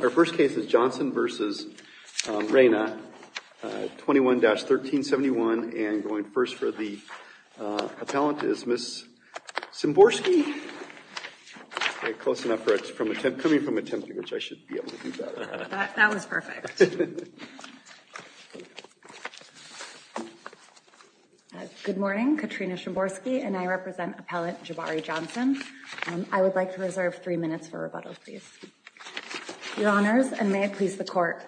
Our first case is Johnson v. Reyna, 21-1371. And going first for the appellant is Ms. Szymborski. Close enough for it's coming from a template, which I should be able to do better. That was perfect. Good morning. Katrina Szymborski, and I represent appellant Jabari Johnson. I would like to reserve three minutes for rebuttal, please. Your honors, and may it please the court,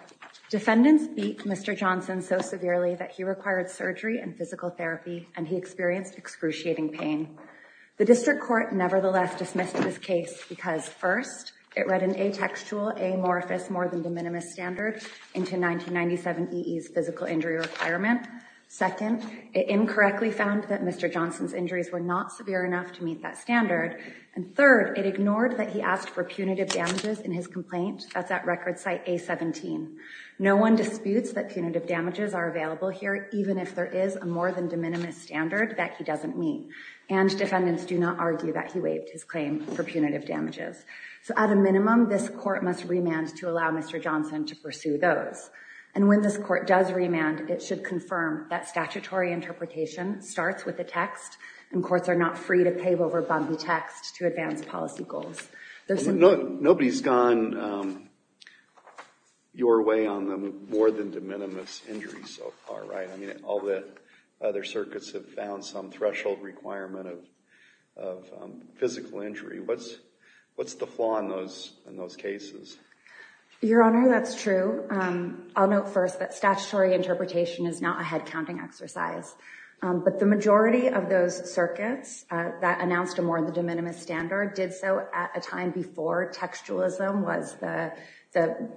defendants beat Mr. Johnson so severely that he required surgery and physical therapy, and he experienced excruciating pain. The district court nevertheless dismissed this case because first, it read an atextual amorphous more than de minimis standard into 1997 EE's physical injury requirement. Second, it incorrectly found that Mr. Johnson's injuries were not severe enough to meet that standard. And third, it ignored that he asked for punitive damages in his complaint. That's at record site A-17. No one disputes that punitive damages are available here, even if there is a more than de minimis standard that he doesn't meet. And defendants do not argue that he waived his claim for punitive damages. So at a minimum, this court must remand to allow Mr. Johnson to pursue those. And when this court does remand, it should confirm that statutory interpretation starts with the text, and courts are not free to pave over bumpy text to advance policy goals. Nobody's gone your way on the more than de minimis injuries so far, right? I mean, all the other circuits have found some threshold requirement of physical injury. What's the flaw in those cases? Your Honor, that's true. I'll note first that statutory interpretation is not a head-counting exercise. But the majority of those circuits that announced a more than de minimis standard did so at a time before textualism was the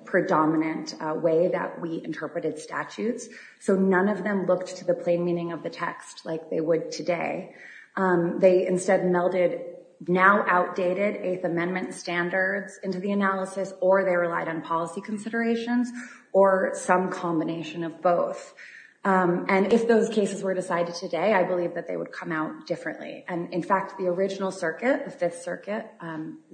predominant way that we interpreted statutes. So none of them looked to the plain meaning of the text like they would today. They instead melded now outdated Eighth Amendment standards into the analysis, or they relied on policy considerations, or some combination of both. And if those cases were decided today, I believe that they would come out differently. And in fact, the original circuit, the Fifth Circuit,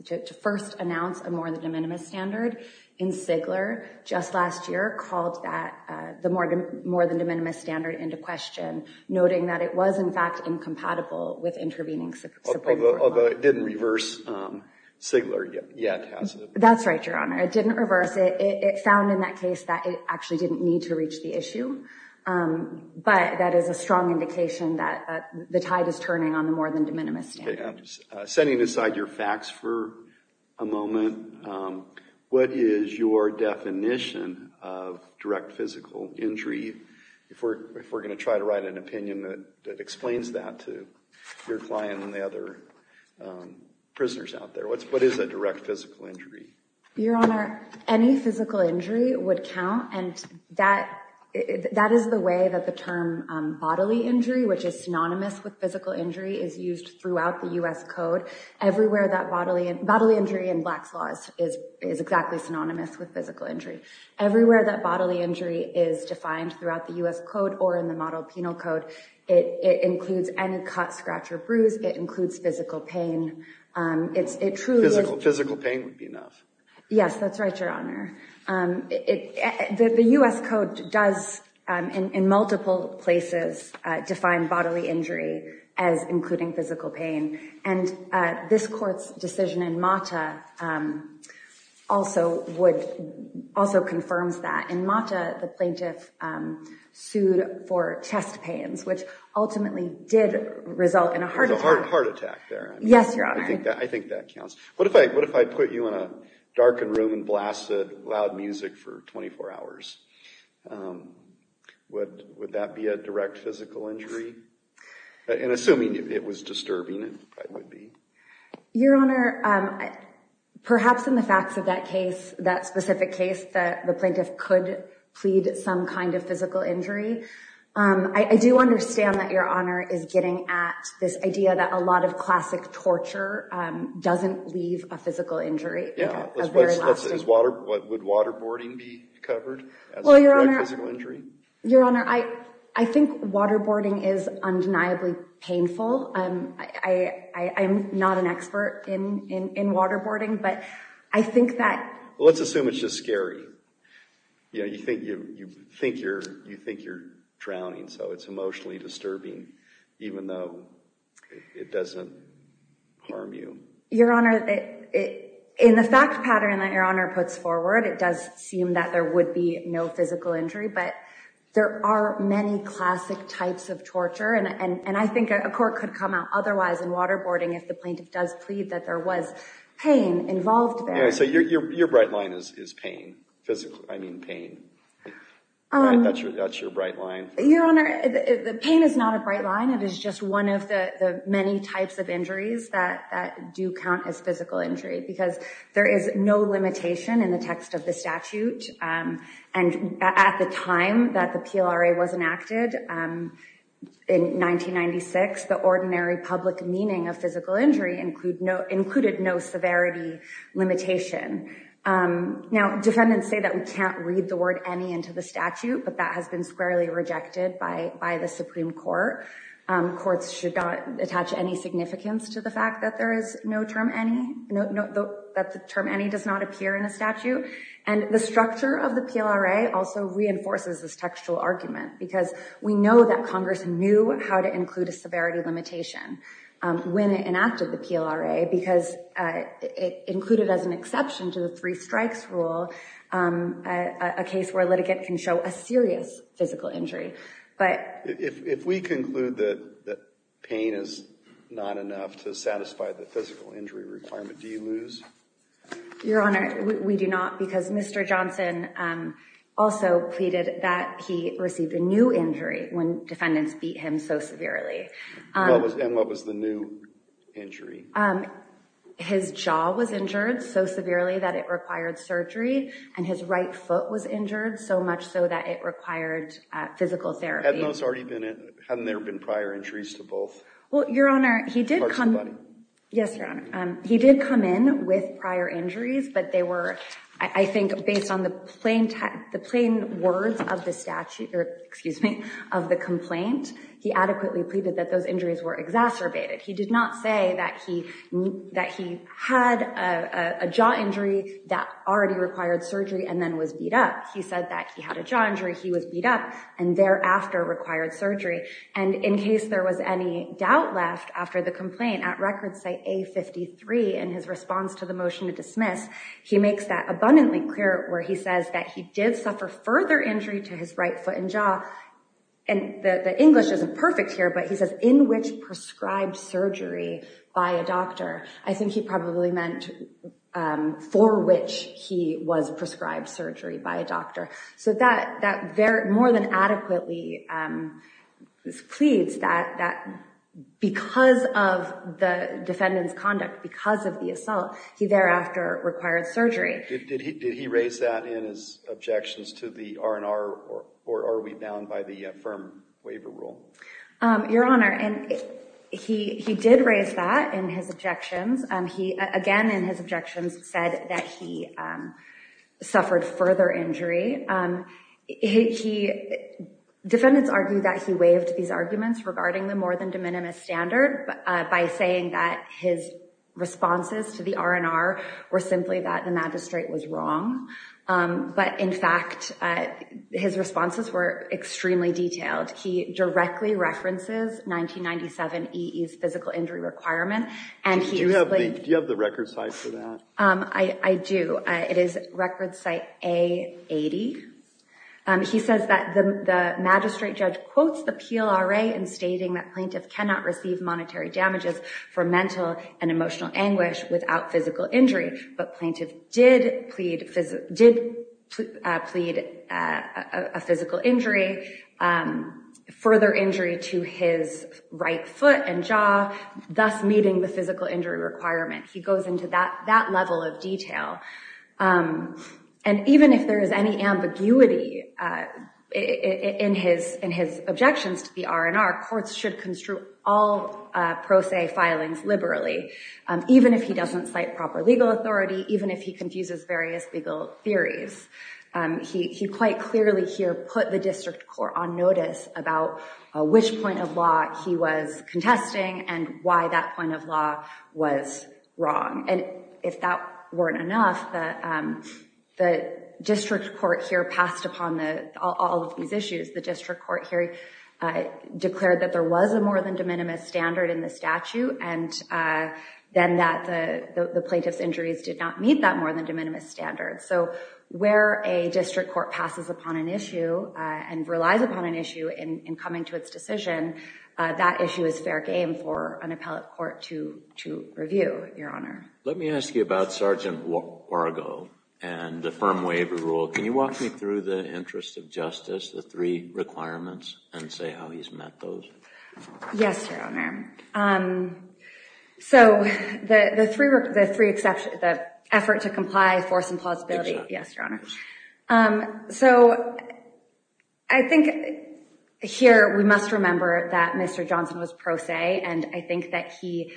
to first announce a more than de minimis standard in Sigler just last year called the more than de minimis standard into question, noting that it was, in fact, incompatible with intervening subpoena for the law. Although it didn't reverse Sigler yet, has it? That's right, Your Honor. It didn't reverse it. It found in that case that it actually didn't need to reach the issue. But that is a strong indication that the tide is turning on the more than de minimis standard. Setting aside your facts for a moment, what is your definition of direct physical injury? If we're going to try to write an opinion that explains that to your client and the other prisoners out there, what is a direct physical injury? Your Honor, any physical injury would count. And that is the way that the term bodily injury, which is synonymous with physical injury, is used throughout the US code. Everywhere that bodily injury in black slaws is exactly synonymous with physical injury. Everywhere that bodily injury is defined throughout the US code or in the model penal code, it includes any cut, scratch, or bruise. It includes physical pain. It truly is. Physical pain would be enough. Yes, that's right, Your Honor. The US code does, in multiple places, define bodily injury as including physical pain. And this court's decision in Mata also confirms that. In Mata, the plaintiff sued for chest pains, which ultimately did result in a heart attack. There was a heart attack there. Yes, Your Honor. I think that counts. What if I put you in a darkened room and blasted loud music for 24 hours? Would that be a direct physical injury? And assuming it was disturbing, it probably would be. Your Honor, perhaps in the facts of that specific case that the plaintiff could plead some kind of physical injury, I do understand that Your Honor is getting at this idea that a lot of classic torture doesn't leave a physical injury. Yeah, would waterboarding be covered as a direct physical injury? Your Honor, I think waterboarding is undeniably painful. I'm not an expert in waterboarding, but I think that. Let's assume it's just scary. You think you're drowning, so it's emotionally disturbing, even though it doesn't harm you. Your Honor, in the fact pattern that Your Honor puts forward, it does seem that there would be no physical injury. But there are many classic types of torture. And I think a court could come out otherwise in waterboarding if the plaintiff does plead that there was pain involved there. So your bright line is pain, physically. I mean pain. That's your bright line? Your Honor, the pain is not a bright line. It is just one of the many types of injuries that do count as physical injury. Because there is no limitation in the text of the statute. And at the time that the PLRA was enacted in 1996, the ordinary public meaning of physical injury included no severity limitation. Now, defendants say that we can't read the word any into the statute. But that has been squarely rejected by the Supreme Court. Courts should not attach any significance to the fact that there is no term any, that the term any does not appear in a statute. And the structure of the PLRA also reinforces this textual argument. Because we know that Congress knew how to include a severity limitation when it enacted the PLRA. Because it included as an exception to the three strikes rule a case where a litigant can show a serious physical injury. But if we conclude that pain is not enough to satisfy the physical injury requirement, do you lose? Your Honor, we do not. Because Mr. Johnson also pleaded that he received a new injury when defendants beat him so severely. And what was the new injury? His jaw was injured so severely that it required surgery. And his right foot was injured so much so that it required physical therapy. Hadn't those already been in? Hadn't there been prior injuries to both? Well, Your Honor, he did come in. Yes, Your Honor. He did come in with prior injuries. But they were, I think, based on the plain words of the statute, or excuse me, of the complaint, he adequately pleaded that those injuries were exacerbated. He did not say that he had a jaw injury that already required surgery and then was beat up. He said that he had a jaw injury, he was beat up, and thereafter required surgery. And in case there was any doubt left after the complaint, at record site A53, in his response to the motion to dismiss, he makes that abundantly clear where he says that he did suffer further injury to his right foot and jaw. And the English isn't perfect here, but he says, in which prescribed surgery by a doctor. I think he probably meant for which he was prescribed surgery by a doctor. So that more than adequately pleads that because of the defendant's conduct, because of the assault, he thereafter required surgery. Did he raise that in his objections to the R&R, or are we bound by the firm waiver rule? Your Honor, he did raise that in his objections. He, again, in his objections said that he suffered further injury. Defendants argue that he waived these arguments regarding the more than de minimis standard by saying that his responses to the R&R were simply that the magistrate was wrong. But in fact, his responses were extremely detailed. He directly references 1997 EE's physical injury requirement. And he explained- Do you have the record site for that? I do. It is record site A80. He says that the magistrate judge quotes the PLRA in stating that plaintiff cannot receive monetary damages for mental and emotional anguish without physical injury. But plaintiff did plead a physical injury, further injury to his right foot and jaw, thus meeting the physical injury requirement. He goes into that level of detail. And even if there is any ambiguity in his objections to the R&R, courts should construe all pro se filings liberally, even if he doesn't cite proper legal authority, even if he confuses various legal theories. He quite clearly here put the district court on notice about which point of law he was contesting and why that point of law was wrong. And if that weren't enough, the district court here passed upon all of these issues. The district court here declared that there was a more than de minimis standard in the statute. And then that the plaintiff's injuries did not meet that more than de minimis standard. So where a district court passes upon an issue and relies upon an issue in coming to its decision, that issue is fair game for an appellate court to review, Your Honor. Let me ask you about Sergeant Wargo and the firm waiver rule. Can you walk me through the interest of justice, the three requirements, and say how he's met those? Yes, Your Honor. So the three exceptions, the effort to comply, force, and plausibility. Yes, Your Honor. So I think here we must remember that Mr. Johnson was pro se. And I think that he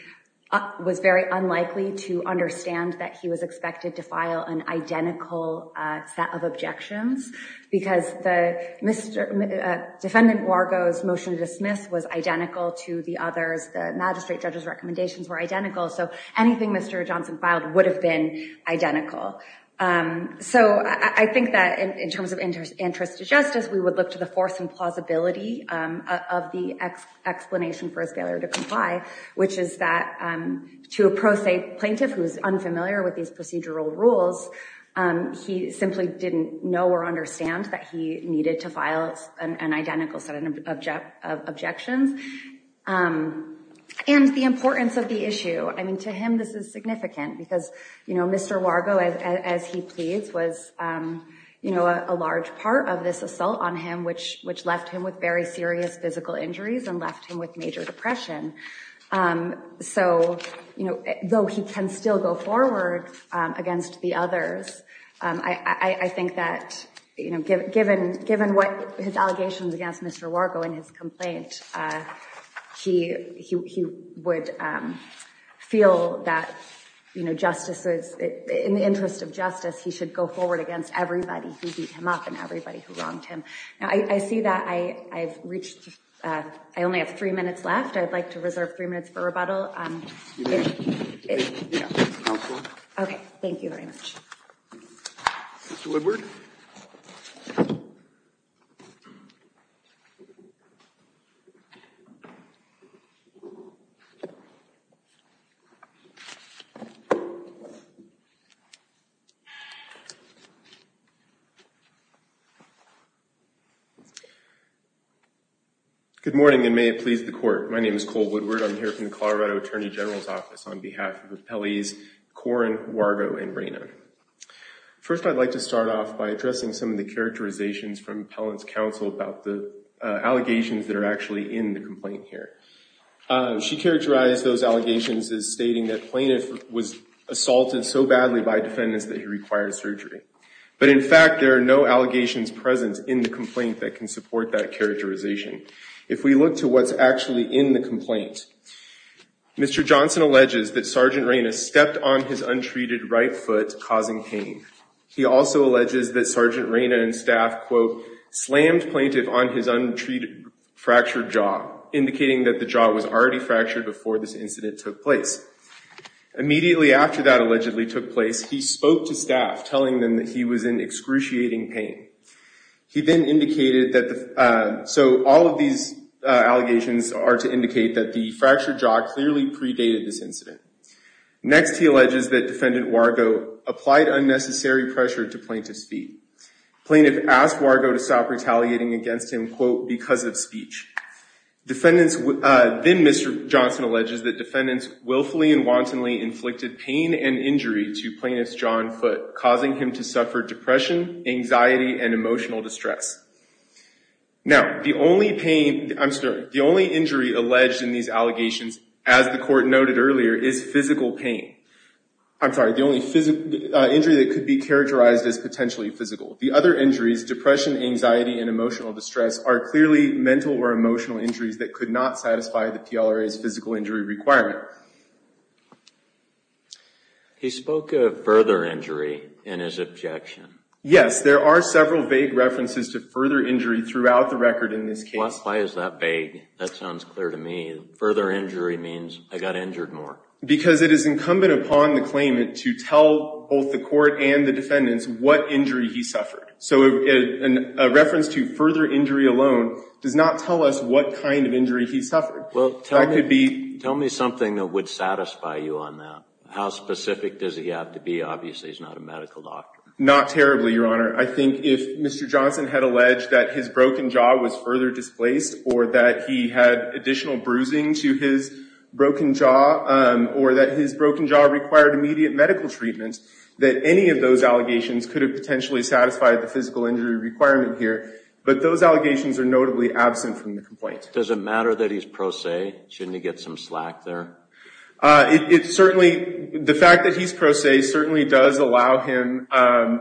was very unlikely to understand that he was expected to file an identical set of objections because the defendant Wargo's motion to dismiss was identical to the others. The magistrate judge's recommendations were identical. So anything Mr. Johnson filed would have been identical. So I think that in terms of interest to justice, we would look to the force and plausibility of the explanation for his failure to comply, which is that to a pro se plaintiff who is unfamiliar with these procedural rules, he simply didn't know or understand that he needed to file an identical set of objections. And the importance of the issue. I mean, to him, this is significant because Mr. Wargo, as he pleads, was a large part of this assault on him, which left him with very serious physical injuries and left him with major depression. So though he can still go forward against the others, I think that given what his allegations against Mr. Wargo and his complaint, he would feel that justices, in the interest of justice, he should go forward against everybody who beat him up and everybody who wronged him. Now, I see that I've reached. I only have three minutes left. I'd like to reserve three minutes for rebuttal. Excuse me. Yeah, counsel. OK, thank you very much. Mr. Woodward? Good morning, and may it please the court. My name is Cole Woodward. I'm here from the Colorado Attorney General's Office on behalf of the appellees Corrin, Wargo, and Reyna. First, I'd like to start off by addressing some of the characterizations from appellant's counsel about the allegations that are actually in the complaint here. She characterized those allegations as stating that plaintiff was assaulted so badly by defendants that he required surgery. But in fact, there are no allegations present in the complaint that can support that characterization. If we look to what's actually in the complaint, Mr. Johnson alleges that Sergeant Reyna stepped on his untreated right foot, causing pain. He also alleges that Sergeant Reyna and staff, quote, slammed plaintiff on his untreated fractured jaw, indicating that the jaw was already fractured before this incident took place. Immediately after that allegedly took place, he spoke to staff telling them that he was in excruciating pain. He then indicated that the, so all of these allegations are to indicate that the fractured jaw clearly predated this incident. Next, he alleges that defendant Wargo applied unnecessary pressure to plaintiff's feet. Plaintiff asked Wargo to stop retaliating against him, quote, because of speech. Defendants, then Mr. Johnson alleges that defendants willfully and wantonly inflicted pain and injury to plaintiff's jaw and foot, causing him to suffer depression, anxiety, and emotional distress. Now, the only pain, I'm sorry, the only injury alleged in these allegations, as the court noted earlier, is physical pain. I'm sorry, the only injury that could be characterized as potentially physical. The other injuries, depression, anxiety, and emotional distress are clearly mental or emotional injuries that could not satisfy the PLRA's physical injury requirement. All right. He spoke of further injury in his objection. Yes, there are several vague references to further injury throughout the record in this case. Why is that vague? That sounds clear to me. Further injury means I got injured more. Because it is incumbent upon the claimant to tell both the court and the defendants what injury he suffered. So a reference to further injury alone does not tell us what kind of injury he suffered. Well, tell me something that would satisfy you on that. How specific does he have to be? Obviously, he's not a medical doctor. Not terribly, Your Honor. I think if Mr. Johnson had alleged that his broken jaw was further displaced, or that he had additional bruising to his broken jaw, or that his broken jaw required immediate medical treatment, that any of those allegations could have potentially satisfied the physical injury requirement here. But those allegations are notably absent from the complaint. Does it matter that he's pro se? Shouldn't he get some slack there? It certainly, the fact that he's pro se certainly does allow him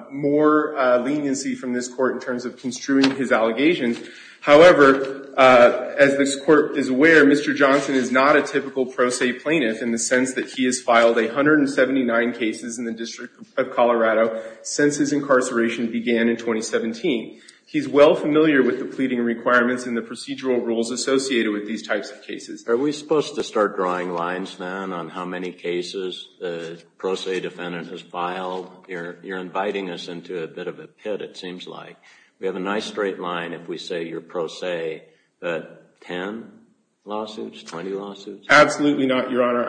more leniency from this court in terms of construing his allegations. However, as this court is aware, Mr. Johnson is not a typical pro se plaintiff in the sense that he has filed 179 cases in the District of Colorado since his incarceration began in 2017. He's well familiar with the pleading requirements and the procedural rules associated with these types of cases. Are we supposed to start drawing lines, then, on how many cases the pro se defendant has filed? You're inviting us into a bit of a pit, it seems like. We have a nice straight line if we say you're pro se, but 10 lawsuits, 20 lawsuits? Absolutely not, Your Honor.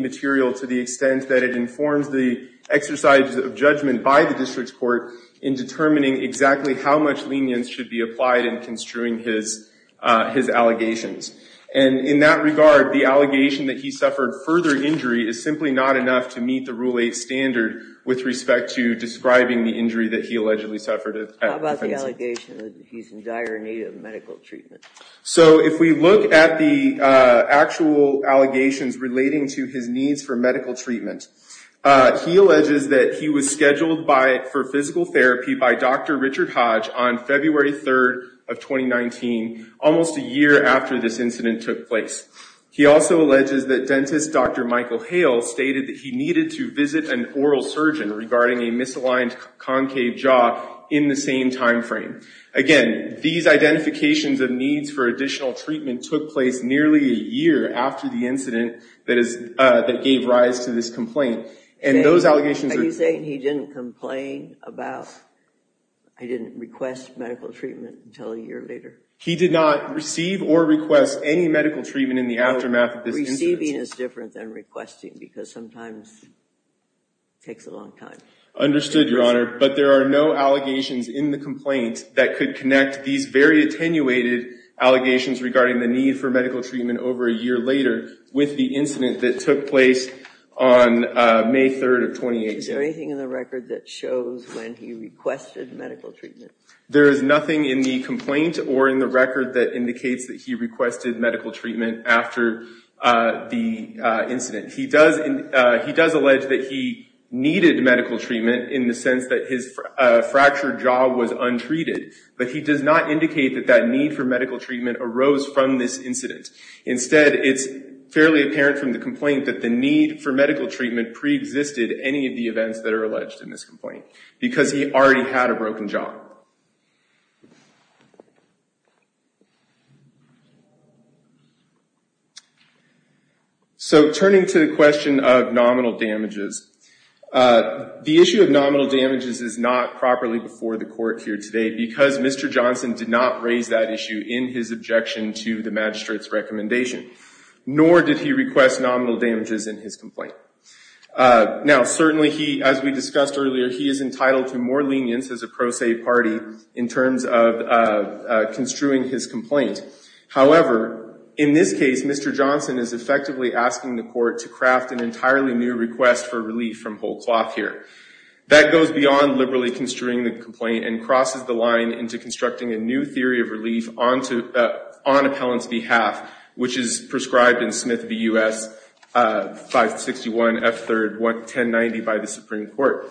material to the extent that it informs the exercise of judgment by the district's court in determining exactly how much lenience should be applied in construing his allegations. And in that regard, the allegation that he suffered further injury is simply not enough to meet the Rule 8 standard with respect to describing the injury that he allegedly suffered. How about the allegation that he's in dire need of medical treatment? So if we look at the actual allegations relating to his needs for medical treatment, he alleges that he was scheduled for physical therapy by Dr. Richard Hodge on February 3rd of 2019, almost a year after this incident took place. He also alleges that dentist Dr. Michael Hale stated that he needed to visit an oral surgeon regarding a misaligned concave jaw in the same time frame. for additional treatment took place nearly a year after the incident that gave rise to this complaint. And those allegations are- Are you saying he didn't complain about, he didn't request medical treatment until a year later? He did not receive or request any medical treatment in the aftermath of this incident. Receiving is different than requesting, because sometimes it takes a long time. Understood, Your Honor. But there are no allegations in the complaint that could connect these very attenuated allegations regarding the need for medical treatment over a year with the incident that took place on May 3rd of 2018. Is there anything in the record that shows when he requested medical treatment? There is nothing in the complaint or in the record that indicates that he requested medical treatment after the incident. He does allege that he needed medical treatment in the sense that his fractured jaw was untreated, but he does not indicate that that need for medical treatment arose from this incident. Instead, it's fairly apparent from the complaint that the need for medical treatment pre-existed any of the events that are alleged in this complaint, because he already had a broken jaw. So turning to the question of nominal damages, the issue of nominal damages is not properly before the court here today, because Mr. Johnson did not raise that issue in his objection to the magistrate's recommendation, nor did he request nominal damages in his complaint. Now, certainly he, as we discussed earlier, he is entitled to more lenience as a pro se party in terms of construing his complaint. However, in this case, Mr. Johnson is effectively asking the court to craft an entirely new request for relief from whole cloth here. That goes beyond liberally construing the complaint and crosses the line into constructing a new theory of relief on appellant's behalf, which is prescribed in Smith v. U.S. 561 F. 3rd 1090 by the Supreme Court.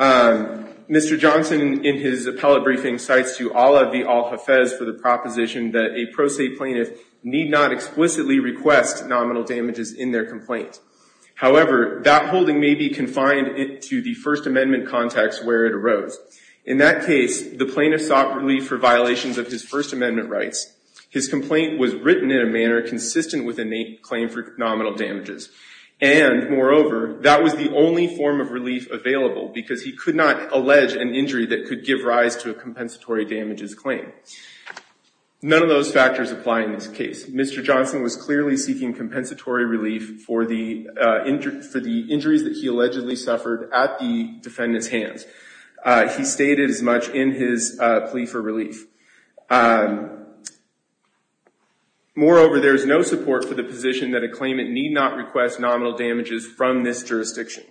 Mr. Johnson, in his appellate briefing, cites to Ola v. Al-Hafez for the proposition that a pro se plaintiff need not explicitly request nominal damages in their complaint. However, that holding may be confined to the First Amendment context where it arose. In that case, the plaintiff sought relief for violations of his First Amendment rights. His complaint was written in a manner consistent with innate claim for nominal damages. And moreover, that was the only form of relief available because he could not allege an injury that could give rise to a compensatory damages claim. None of those factors apply in this case. Mr. Johnson was clearly seeking compensatory relief for the injuries that he allegedly suffered at the defendant's hands. He stated as much in his plea for relief. Moreover, there is no support for the position that a claimant need not request nominal damages from this jurisdiction.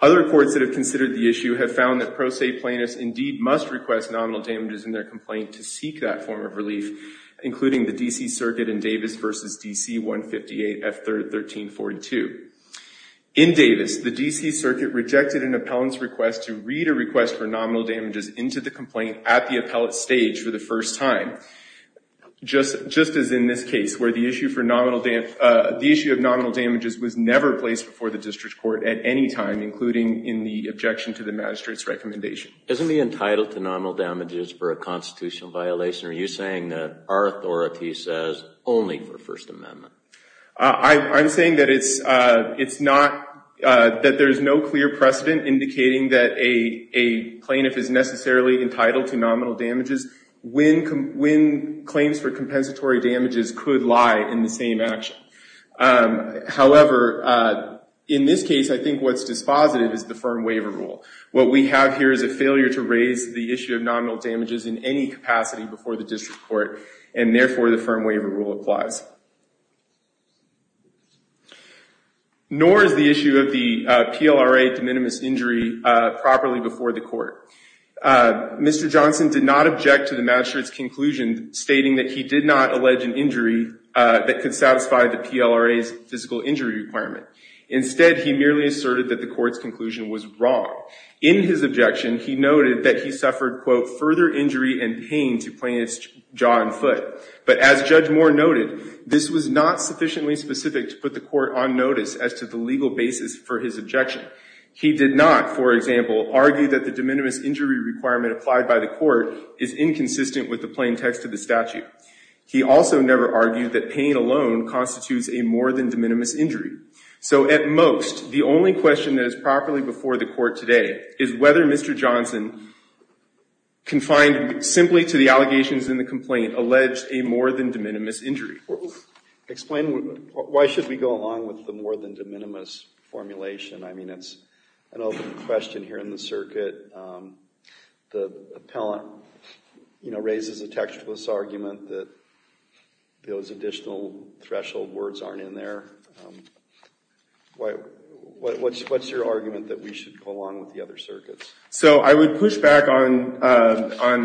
Other courts that have considered the issue have found that pro se plaintiffs indeed must request nominal damages in their complaint to seek that form of relief, including the D.C. Circuit in Davis v. D.C. 158 F. 1342. In Davis, the D.C. Circuit rejected an appellant's request to read a request for nominal damages into the complaint at the appellate stage for the first time, just as in this case, where the issue of nominal damages was never placed before the district court at any time, including in the objection to the magistrate's recommendation. Isn't he entitled to nominal damages for a constitutional violation? Are you saying that our authority says only for First Amendment? I'm saying that there's no clear precedent indicating that a plaintiff is necessarily entitled to nominal damages when claims for compensatory damages could lie in the same action. However, in this case, I think what's dispositive is the firm waiver rule. What we have here is a failure to raise the issue of nominal damages in any capacity before the district court, and therefore the firm waiver rule applies. Nor is the issue of the PLRA de minimis injury properly before the court. Mr. Johnson did not object to the magistrate's conclusion, stating that he did not allege an injury that could satisfy the PLRA's physical injury requirement. Instead, he merely asserted that the court's conclusion was wrong. In his objection, he noted that he suffered, quote, further injury and pain to plaintiff's jaw and foot. But as Judge Moore noted, this was not sufficiently specific to put the court on notice as to the legal basis for his objection. He did not, for example, argue that the de minimis injury requirement applied by the court is inconsistent with the plain text of the statute. He also never argued that pain alone constitutes a more than de minimis injury. So at most, the only question that is properly before the court today is whether Mr. Johnson, confined simply to the allegations in the complaint, alleged a more than de minimis injury. Explain, why should we go along with the more than de minimis formulation? I mean, it's an open question here in the circuit. The appellant, you know, raises a textless argument that those additional threshold words aren't in there. Why, what's your argument that we should go along with the other circuits? So I would push back on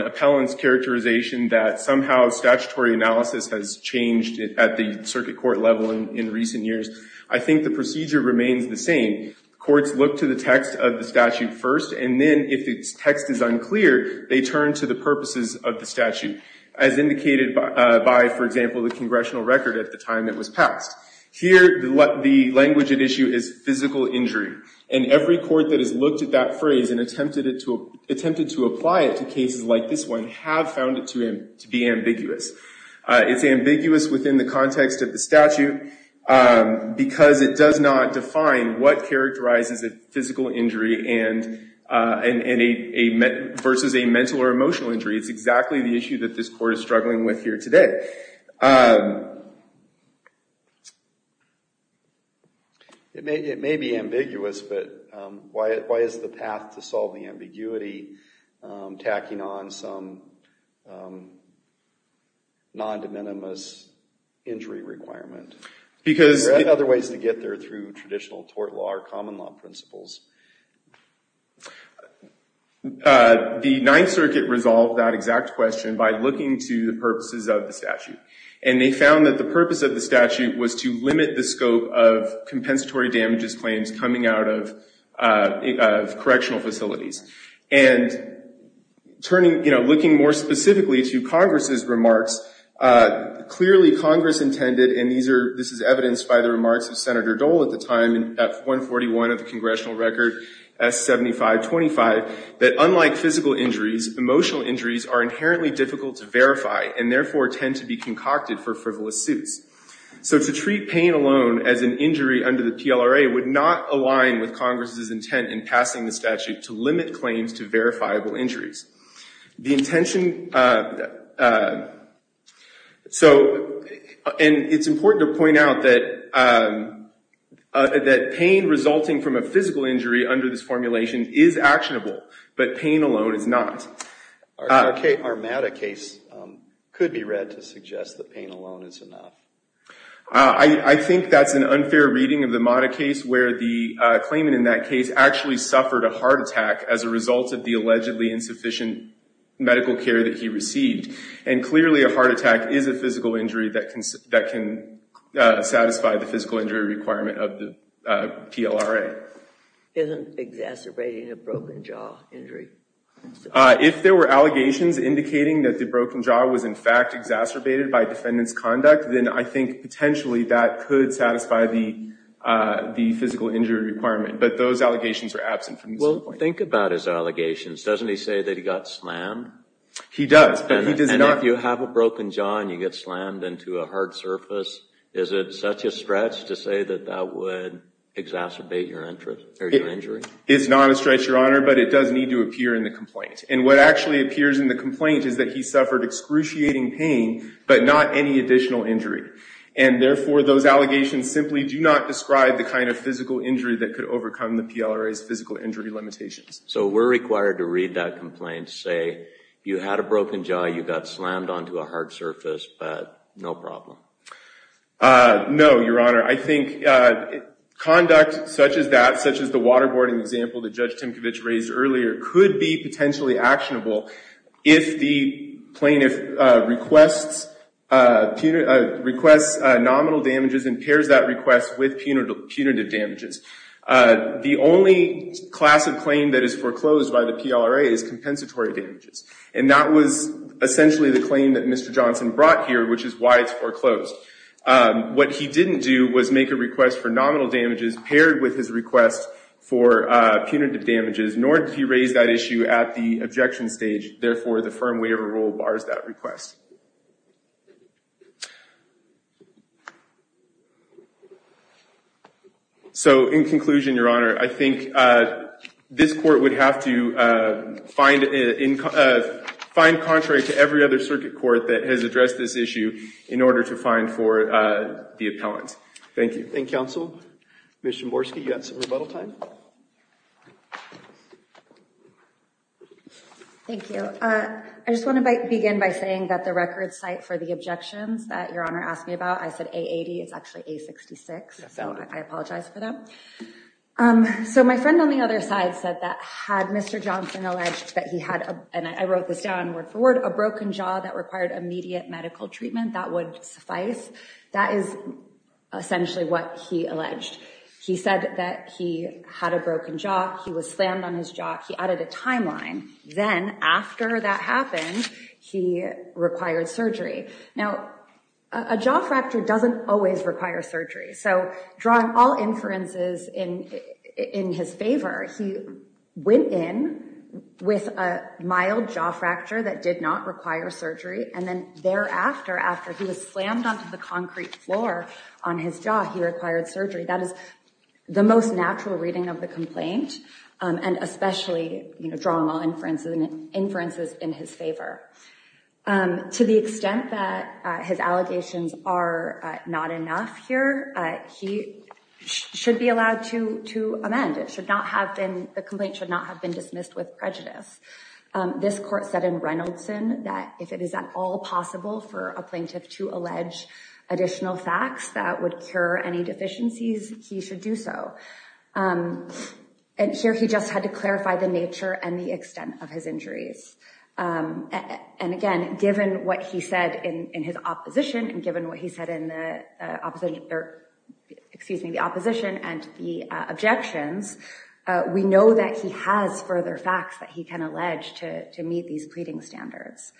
appellant's characterization that somehow statutory analysis has changed at the circuit court level in recent years. I think the procedure remains the same. Courts look to the text of the statute first, and then if the text is unclear, they turn to the purposes of the statute, as indicated by, for example, the congressional record at the time it was passed. Here, the language at issue is physical injury. And every court that has looked at that phrase and attempted to apply it to cases like this one have found it to be ambiguous. It's ambiguous within the context of the statute because it does not define what characterizes a physical injury versus a mental or emotional injury. It's exactly the issue that this court is struggling with here today. It may be ambiguous, but why is the path to solving ambiguity tacking on some non-de minimis injury requirement? Because there are other ways to get there through traditional tort law or common law principles. The Ninth Circuit resolved that exact question by looking to the purposes of the statute. And they found that the purpose of the statute was to limit the scope of compensatory damages claims coming out of correctional facilities. And looking more specifically to Congress's remarks, clearly Congress intended, and this is evidenced by the remarks of Senator Dole at the time, at 141 of the congressional record, S7525, that unlike physical injuries, emotional injuries are inherently difficult to verify and therefore tend to be concocted for frivolous suits. So to treat pain alone as an injury under the PLRA would not align with Congress's intent in passing the statute to limit claims to verifiable injuries. The intention, so, and it's important to point out that pain resulting from a physical injury under this formulation is actionable, but pain alone is not. Our MATA case could be read to suggest that pain alone is enough. I think that's an unfair reading of the MATA case where the claimant in that case actually suffered a heart attack as a result of the allegedly insufficient medical care that he received. And clearly a heart attack is a physical injury that can satisfy the physical injury requirement of the PLRA. Isn't exacerbating a broken jaw injury? If there were allegations indicating that the broken jaw was in fact exacerbated by defendant's conduct, then I think potentially that could satisfy the physical injury requirement. But those allegations are absent from this complaint. Well, think about his allegations. Doesn't he say that he got slammed? He does, but he does not. And if you have a broken jaw and you get slammed into a hard surface, is it such a stretch to say that that would exacerbate your injury? It's not a stretch, Your Honor, but it does need to appear in the complaint. And what actually appears in the complaint is that he suffered excruciating pain, but not any additional injury. And therefore, those allegations simply do not describe the kind of physical injury that could overcome the PLRA's physical injury limitations. So we're required to read that complaint, say you had a broken jaw, you got slammed onto a hard surface, but no problem. No, Your Honor. I think conduct such as that, such as the waterboarding example that Judge Timkovich raised earlier, could be potentially actionable if the plaintiff requests nominal damages and pairs that request with punitive damages. The only class of claim that is foreclosed by the PLRA is compensatory damages. And that was essentially the claim that Mr. Johnson brought here, which is why it's foreclosed. What he didn't do was make a request for nominal damages paired with his request for punitive damages, nor did he raise that issue at the objection stage. Therefore, the firm waiver rule bars that request. So in conclusion, Your Honor, I think this court would have to find, find contrary to every other circuit court that has addressed this issue in order to find for the appellant. Thank you. Thank you, counsel. Mr. Morski, you got some rebuttal time? Thank you. I just want to begin by saying that the record site for the objections that Your Honor asked me about, I said A80, it's actually A66. So I apologize for that. So my friend on the other side said that had Mr. Johnson alleged that he had, and I wrote this down word for word, a broken jaw that required immediate medical treatment, that would suffice. That is essentially what he alleged. He said that he had a broken jaw. He was slammed on his jaw. He added a timeline. Then after that happened, he required surgery. Now, a jaw fracture doesn't always require surgery. So drawing all inferences in his favor, he went in with a mild jaw fracture that did not require surgery. And then thereafter, after he was slammed onto the concrete floor on his jaw, he required surgery. That is the most natural reading of the complaint, and especially drawing all inferences in his favor. To the extent that his allegations are not enough here, he should be allowed to amend. The complaint should not have been dismissed with prejudice. This court said in Reynoldson that if it is at all possible for a plaintiff to allege additional facts that would cure any deficiencies, he should do so. And here, he just had to clarify the nature and the extent of his injuries. And again, given what he said in his opposition, and given what he said in the opposition and the objections, we know that he has further facts that he can allege to meet these pleading standards.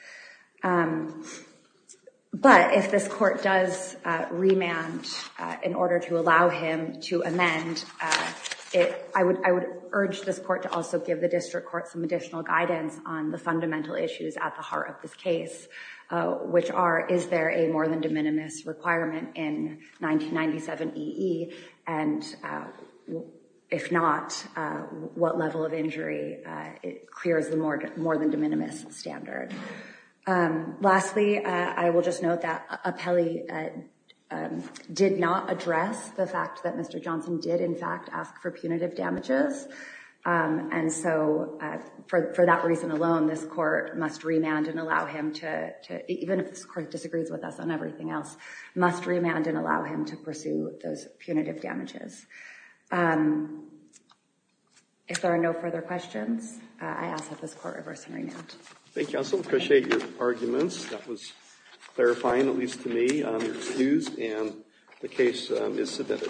But if this court does remand in order to allow him to amend, I would urge this court to also give the district court some additional guidance on the fundamental issues at the heart of this case, which are, is there a more than de minimis requirement in 1997 EE, and if not, what level of injury clears the more than de minimis standard? Lastly, I will just note that Apelli did not address the fact that Mr. Johnson did in fact ask for punitive damages. And so for that reason alone, this court must remand and allow him to, even if this court disagrees with us on everything else, must remand and allow him to pursue those punitive damages. I ask that this court reverse and remand. Thank you, I also appreciate your arguments. That was clarifying, at least to me. I'm excused and the case is submitted.